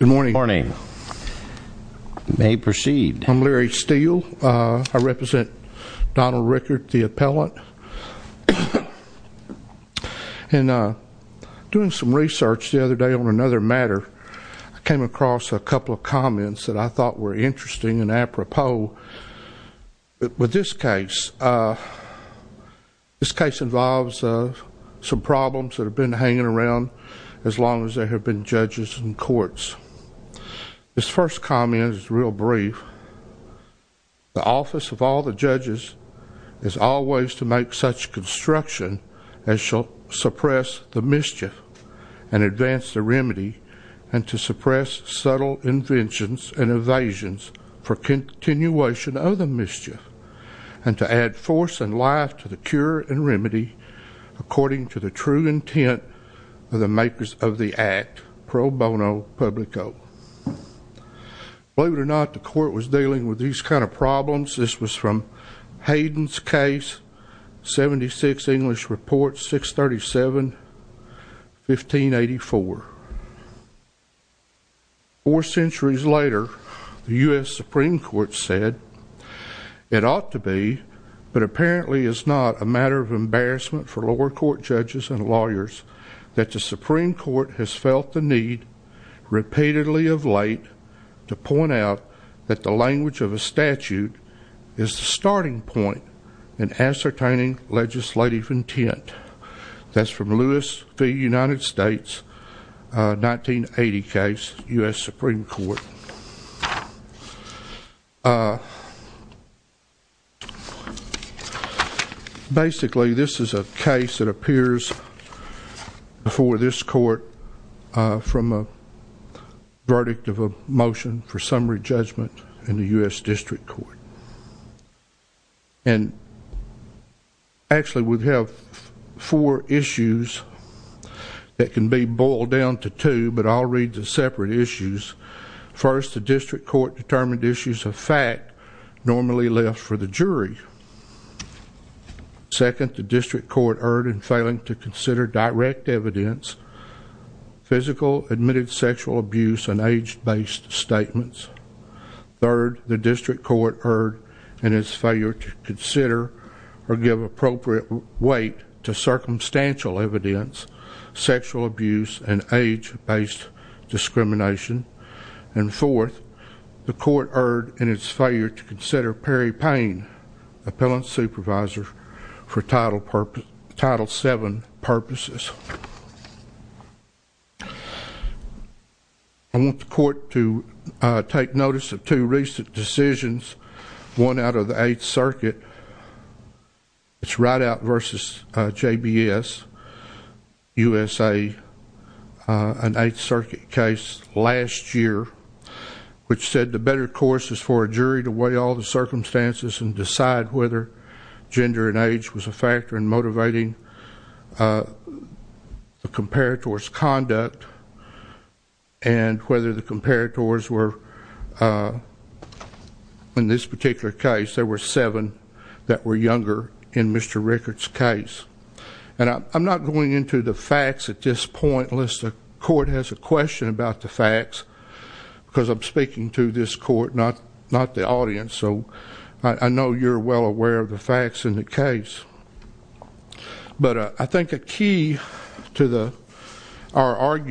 Good morning. May proceed. I'm Larry Steele. I represent Donald Rickard, the appellant. And doing some research the other day on another matter, I came across a couple of comments that I thought were interesting and apropos with this case. This case involves some problems that have been hanging around as long as there have been judges and courts. This first comment is real brief. The office of all the judges is always to make such construction as shall suppress the mischief and advance the remedy and to suppress subtle inventions and evasions for continuation of the mischief and to add force and life to the cure and remedy according to the true intent of the makers of the act pro bono publico. Believe it or not, the court was dealing with these kind of problems. This was from Hayden's case 76 English report 637 1584. Four centuries later the US Supreme Court said it ought to be but apparently is not a matter of embarrassment for lower court judges and lawyers that the Supreme Court has felt the need repeatedly of late to point out that the language of a statute is the starting point in ascertaining legislative intent. That's from Lewis v. United States 1980 case US Supreme Court. Basically this is a case that appears before this court from a verdict of a motion for summary judgment in the that can be boiled down to two but I'll read the separate issues. First, the district court determined issues of fact normally left for the jury. Second, the district court erred in failing to consider direct evidence, physical admitted sexual abuse and age-based statements. Third, the district court erred in its failure to consider or give appropriate weight to circumstantial evidence, sexual abuse and age-based discrimination. And fourth, the court erred in its failure to consider Perry Payne, appellant supervisor for title purpose title 7 purposes. I want the court to take notice of two recent decisions won out of the Eighth Circuit. It's right out versus JBS USA an Eighth Circuit case last year which said the better course is for a jury to weigh all the circumstances and decide whether gender and age was a factor in this particular case there were seven that were younger in Mr. Rickert's case and I'm not going into the facts at this point unless the court has a question about the facts because I'm speaking to this court not not the audience so I know you're well aware of the facts in the case but I think a key to the our of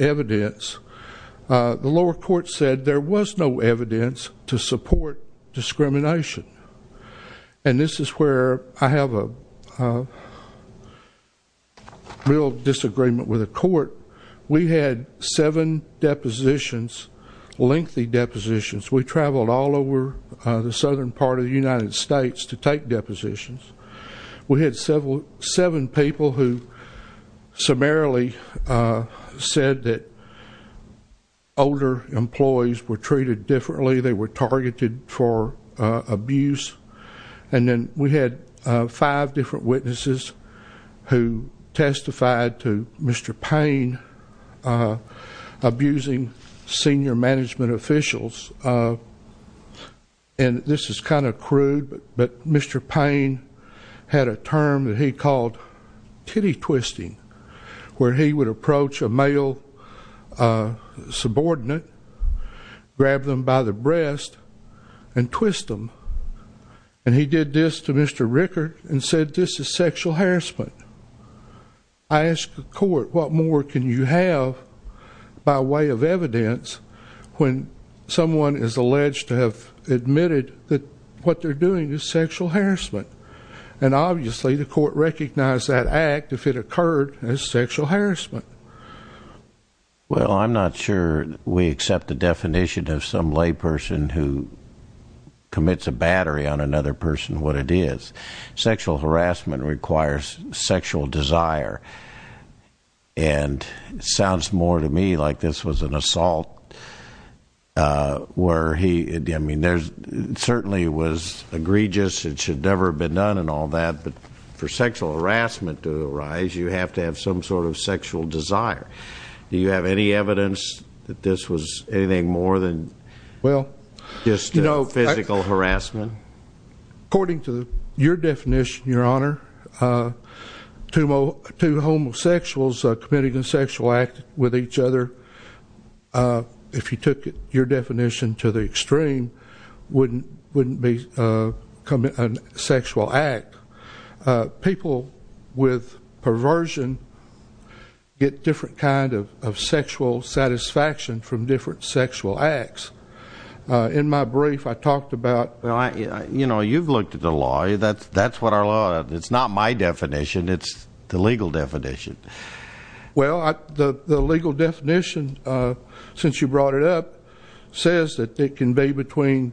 evidence the lower court said there was no evidence to support discrimination and this is where I have a real disagreement with a court we had seven depositions lengthy depositions we traveled all over the southern part of the United States to take depositions we had several seven people who summarily said that older employees were treated differently they were targeted for abuse and then we had five different witnesses who testified to Mr. Payne abusing senior management officials and this is kind of crude but Mr. Payne had a term that he called titty twisting where he would approach a male subordinate grab them by the breast and twist them and he did this to Mr. Rickert and said this is sexual harassment I asked the court what more can you have by way of evidence when someone is alleged to have admitted that what they're doing is sexual harassment and obviously the court recognized that act if it occurred as sexual harassment well I'm not sure we accept the definition of some lay person who commits a battery on another person what it is sexual harassment requires sexual desire and sounds more to me like this was an assault where he I mean there's certainly was egregious it should never have been done and all that but for sexual harassment to arise you have to have some sort of sexual desire do you have any evidence that this was anything more than well just no physical harassment according to your definition your honor two more two homosexuals committing a sexual act with each other if you took it your definition to the wouldn't wouldn't be commit an sexual act people with perversion get different kind of sexual satisfaction from different sexual acts in my brief I talked about well I you know you've looked at the law that's that's what our law it's not my definition it's the legal definition well the legal definition since you brought it up says that it can be between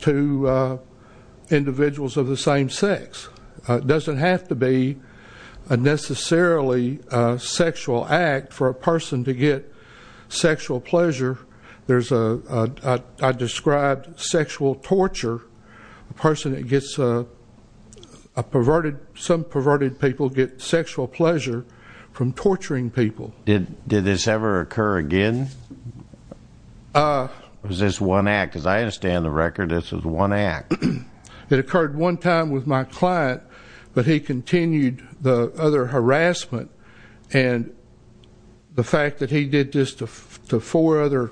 two individuals of the same sex doesn't have to be a necessarily sexual act for a person to get sexual pleasure there's a described sexual torture person it gets a perverted some perverted people get sexual pleasure from torturing people did this ever occur again this one act as I understand the record this is one act it occurred one time with my client but he continued the other harassment and the fact that he did this to four other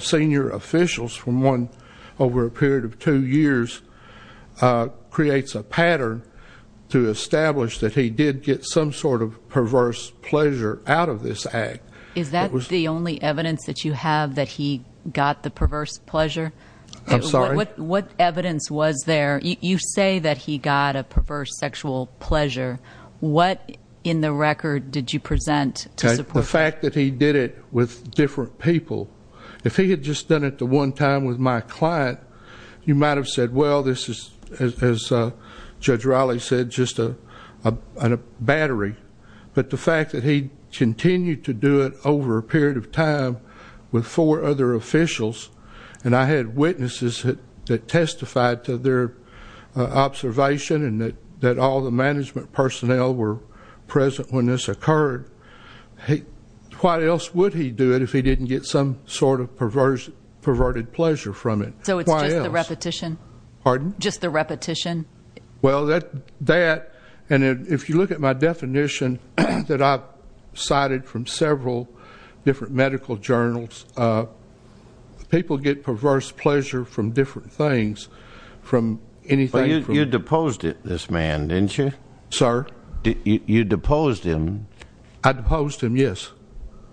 senior officials from one over a period of two years creates a pattern to establish that he did get some sort of perverse pleasure out of this act is that was the only evidence that you have that he got the perverse pleasure I'm sorry what evidence was there you say that he got a perverse sexual pleasure what in the record did you present the fact that he did it with different people if he had just done at the one time with my client you might have said well this is as Judge Raleigh said just a battery but the fact that he continued to do it over a period of time with four other officials and I had witnesses that testified to their observation and that that all the management personnel were present when this occurred hey what else would he do it if he didn't get some sort of perverse perverted pleasure from it so it's repetition pardon just the repetition well that that and if you look at my definition that I've cited from several different medical journals people get perverse pleasure from different things from anything you deposed it this man didn't you sir you deposed him I deposed him yes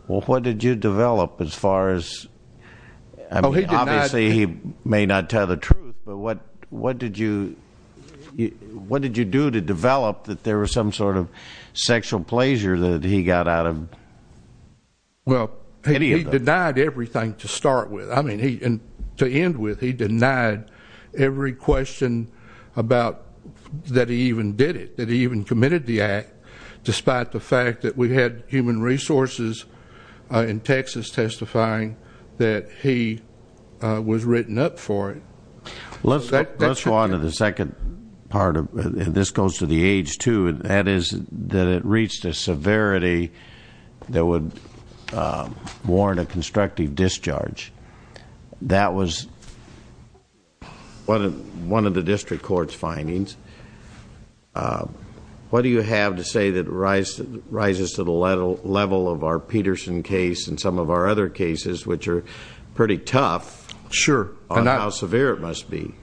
well what did you develop as far as obviously he may not tell the truth but what what did you what did you do to develop that there was some sort of sexual pleasure that he got out of well he denied everything to start with I mean he and to end with he denied every question about that he even did it that the fact that we had human resources in Texas testifying that he was written up for it let's let's go on to the second part of this goes to the age too and that is that it reached a severity that would warrant a constructive discharge that was what one of the district courts findings what do you have to say that rise that rises to the level level of our Peterson case and some of our other cases which are pretty tough sure and now severe it must be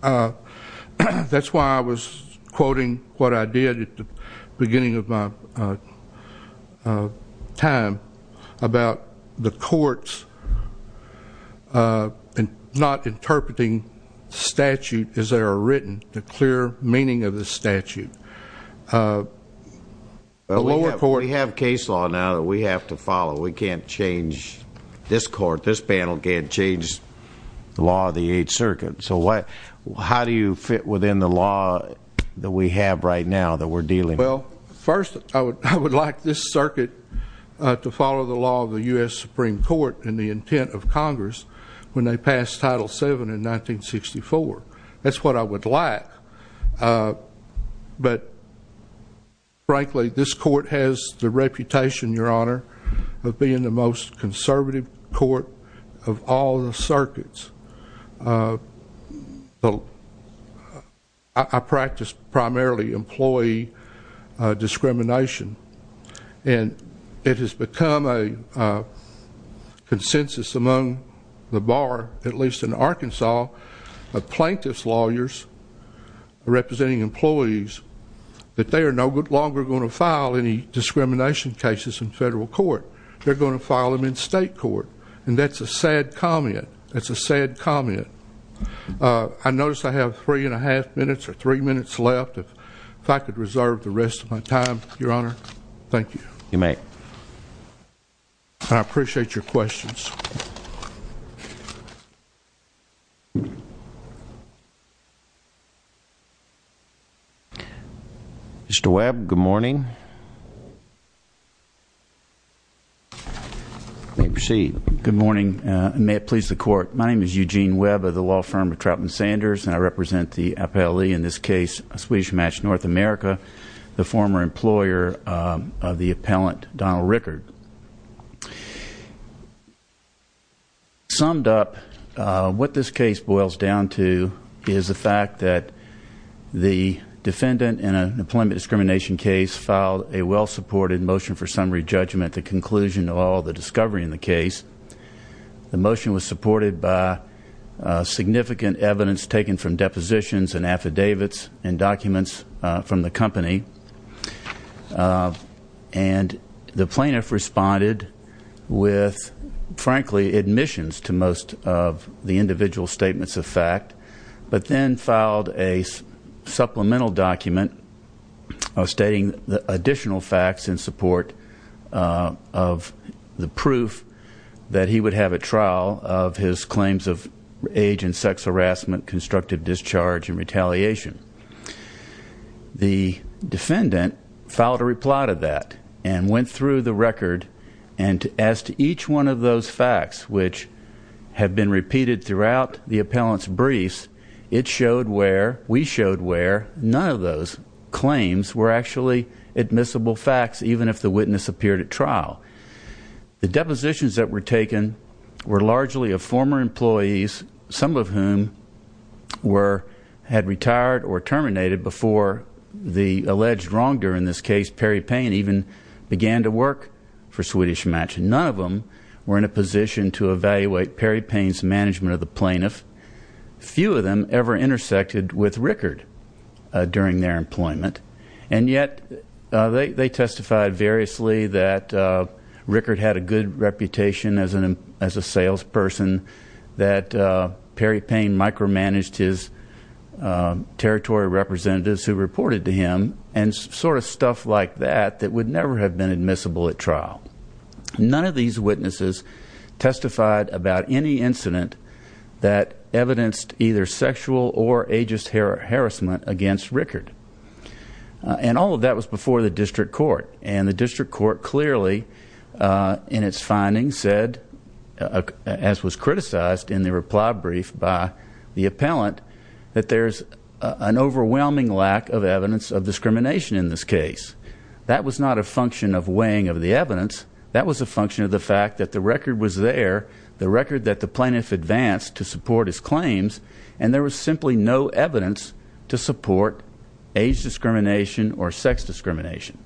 that's why I was quoting what I did at the beginning of my time about the courts and not lower court we have case law now that we have to follow we can't change this court this panel can't change the law of the 8th Circuit so what how do you fit within the law that we have right now that we're dealing well first I would I would like this circuit to follow the law of the US Supreme Court and the intent of Congress when they passed title 7 in 1964 that's what I would like but frankly this court has the reputation your honor of being the most conservative court of all the circuits I practice primarily employee discrimination and it has become a consensus among the bar at least in Arkansas the plaintiffs lawyers representing employees that they are no good longer going to file any discrimination cases in federal court they're going to file them in state court and that's a sad comment that's a sad comment I noticed I have three and a half minutes or three minutes left if I could reserve the rest of my time your you may I appreciate your questions mr. Webb good morning may proceed good morning may it please the court my name is Eugene Webb of the law firm of Troutman Sanders and I represent the appellant Donald Rickard summed up what this case boils down to is the fact that the defendant in an employment discrimination case filed a well supported motion for summary judgment the conclusion of all the discovery in the case the motion was supported by significant evidence taken from the plaintiff responded with frankly admissions to most of the individual statements of fact but then filed a supplemental document stating the additional facts in support of the proof that he would have a trial of his claims of age and sex harassment constructive discharge and retaliation the defendant filed a reply to that and went through the record and as to each one of those facts which have been repeated throughout the appellants briefs it showed where we showed where none of those claims were actually admissible facts even if the witness appeared at trial the depositions that were taken were largely of former employees some of whom were had retired or terminated before the alleged wrongdoer in this case Perry Payne even began to work for Swedish Match and none of them were in a position to evaluate Perry Payne's management of the plaintiff few of them ever intersected with Rickard during their employment and yet they testified variously that Rickard had a good reputation as an as a salesperson that Perry Payne micromanaged his territory representatives who reported to him and sort of stuff like that that would never have been admissible at trial none of these witnesses testified about any incident that evidenced either sexual or ageist hair harassment against Rickard and all of that was before the district court and the district court clearly in its findings said as was criticized in the reply brief by the appellant that there's an overwhelming lack of evidence of discrimination in this case that was not a function of weighing of the evidence that was a function of the fact that the record was there the record that the plaintiff advanced to support his claims and there was simply no discrimination or sex discrimination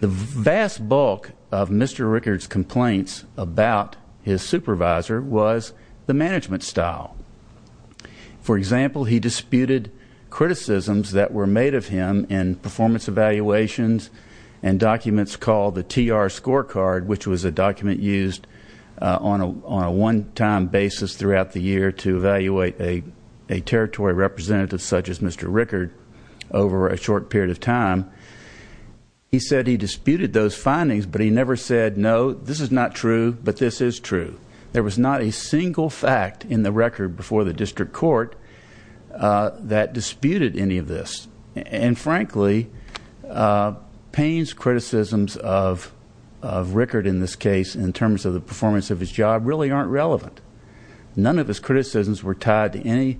the vast bulk of Mr. Rickard's complaints about his supervisor was the management style for example he disputed criticisms that were made of him in performance evaluations and documents called the TR scorecard which was a document used on a one-time basis throughout the year to evaluate a territory representative such as Mr. Rickard over a short period of time he said he disputed those findings but he never said no this is not true but this is true there was not a single fact in the record before the district court that disputed any of this and frankly Payne's criticisms of Rickard in this case in terms of the performance of his job really aren't relevant none of his criticisms were tied to any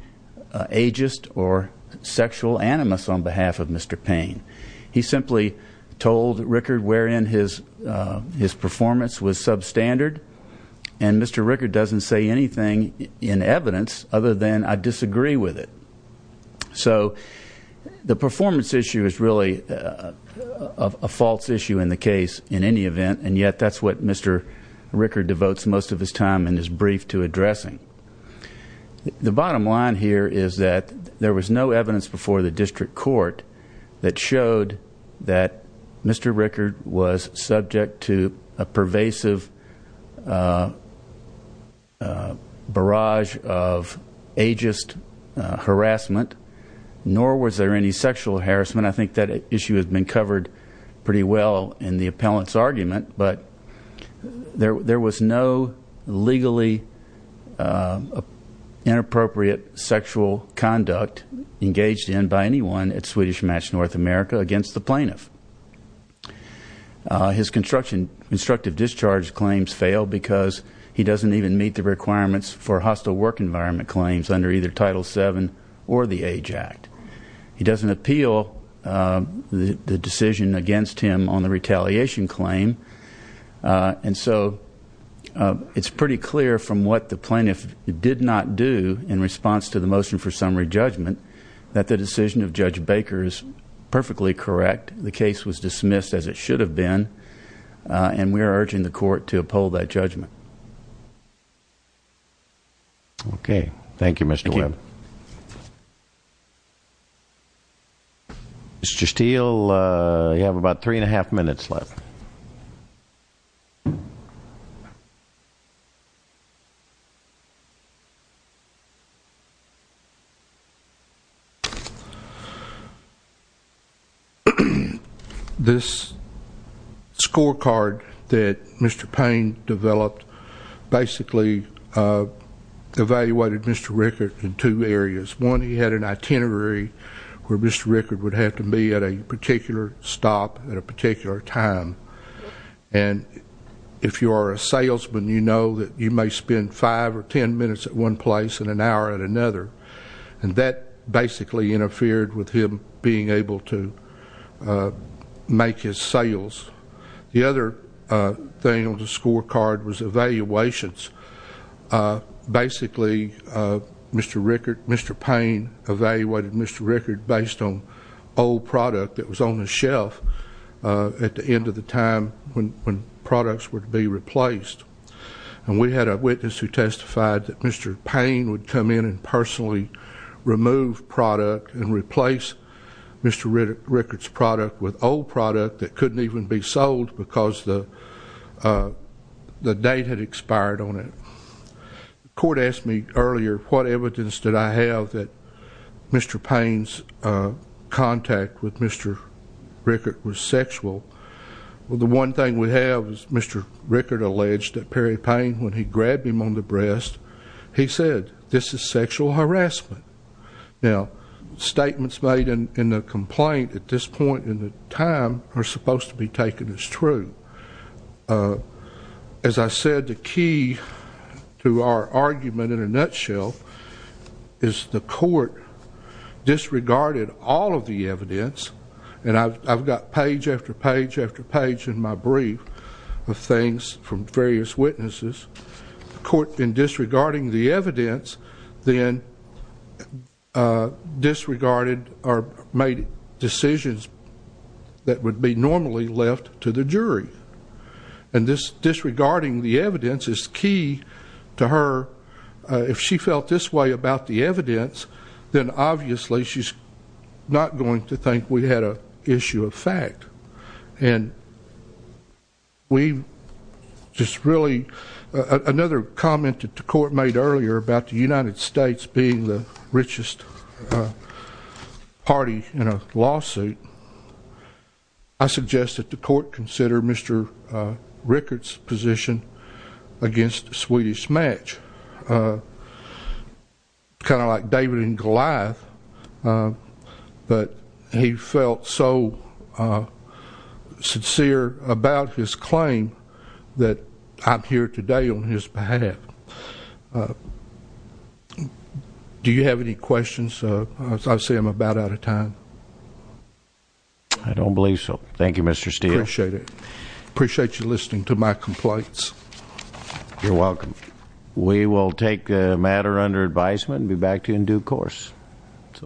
ageist or sexual animus on behalf of mr. Payne he simply told Rickard wherein his his performance was substandard and mr. Rickard doesn't say anything in evidence other than I disagree with it so the performance issue is really a false issue in the case in any event and yet that's what mr. Rickard devotes most of his time in his brief to addressing the bottom line here is that there was no evidence before the district court that showed that mr. Rickard was subject to a pervasive barrage of ageist harassment nor was there any sexual harassment I think that issue has been covered pretty well in the appellant's argument but there there was no legally inappropriate sexual conduct engaged in by anyone at Swedish Match North America against the plaintiff his construction instructive discharge claims fail because he doesn't even meet the requirements for hostile work environment claims under either title 7 or the age act he doesn't appeal the decision against him on the retaliation claim and so it's pretty clear from what the plaintiff did not do in response to the motion for summary judgment that the decision of judge Baker is perfectly correct the case was dismissed as it should have been and we are urging the court to uphold that judgment okay thank you mr. Webb mr. Steele you have about three and a half minutes left this scorecard that mr. Payne developed basically evaluated mr. Rickard in two areas one he had an itinerary where mr. Rickard would have to be at a particular stop at a particular time and if you are a salesman you know that you may spend five or ten minutes at one place in an hour at another and that basically interfered with him being able to make his sales the other thing on the score card was evaluations basically mr. Rickard mr. Payne evaluated mr. Rickard based on old product that was on the shelf at the end of the time when products were to be replaced and we had a witness who testified that mr. Payne would come in and personally remove product and replace mr. Rickard's with old product that couldn't even be sold because the the date had expired on it court asked me earlier what evidence did I have that mr. Payne's contact with mr. Rickard was sexual well the one thing we have is mr. Rickard alleged that Perry Payne when he grabbed him on the breast he said this is sexual harassment now statements made in the complaint at this point in the time are supposed to be taken as true as I said the key to our argument in a nutshell is the court disregarded all of the evidence and I've got page after page after page in my brief of things from various witnesses court in disregarding the evidence then disregarded or made decisions that would be normally left to the jury and this disregarding the evidence is key to her if she felt this way about the evidence then obviously she's not going to think we had a issue of fact and we just really another comment that the court made earlier about the United States being the richest party in a lawsuit I suggest that the court consider mr. Rickard's position against Swedish match kind of David and Goliath but he felt so sincere about his claim that I'm here today on his behalf do you have any questions I say I'm about out of time I don't believe so thank you mr. Steele shaded appreciate you listening to my complaints you're welcome we will take matter under advisement be back to you in due course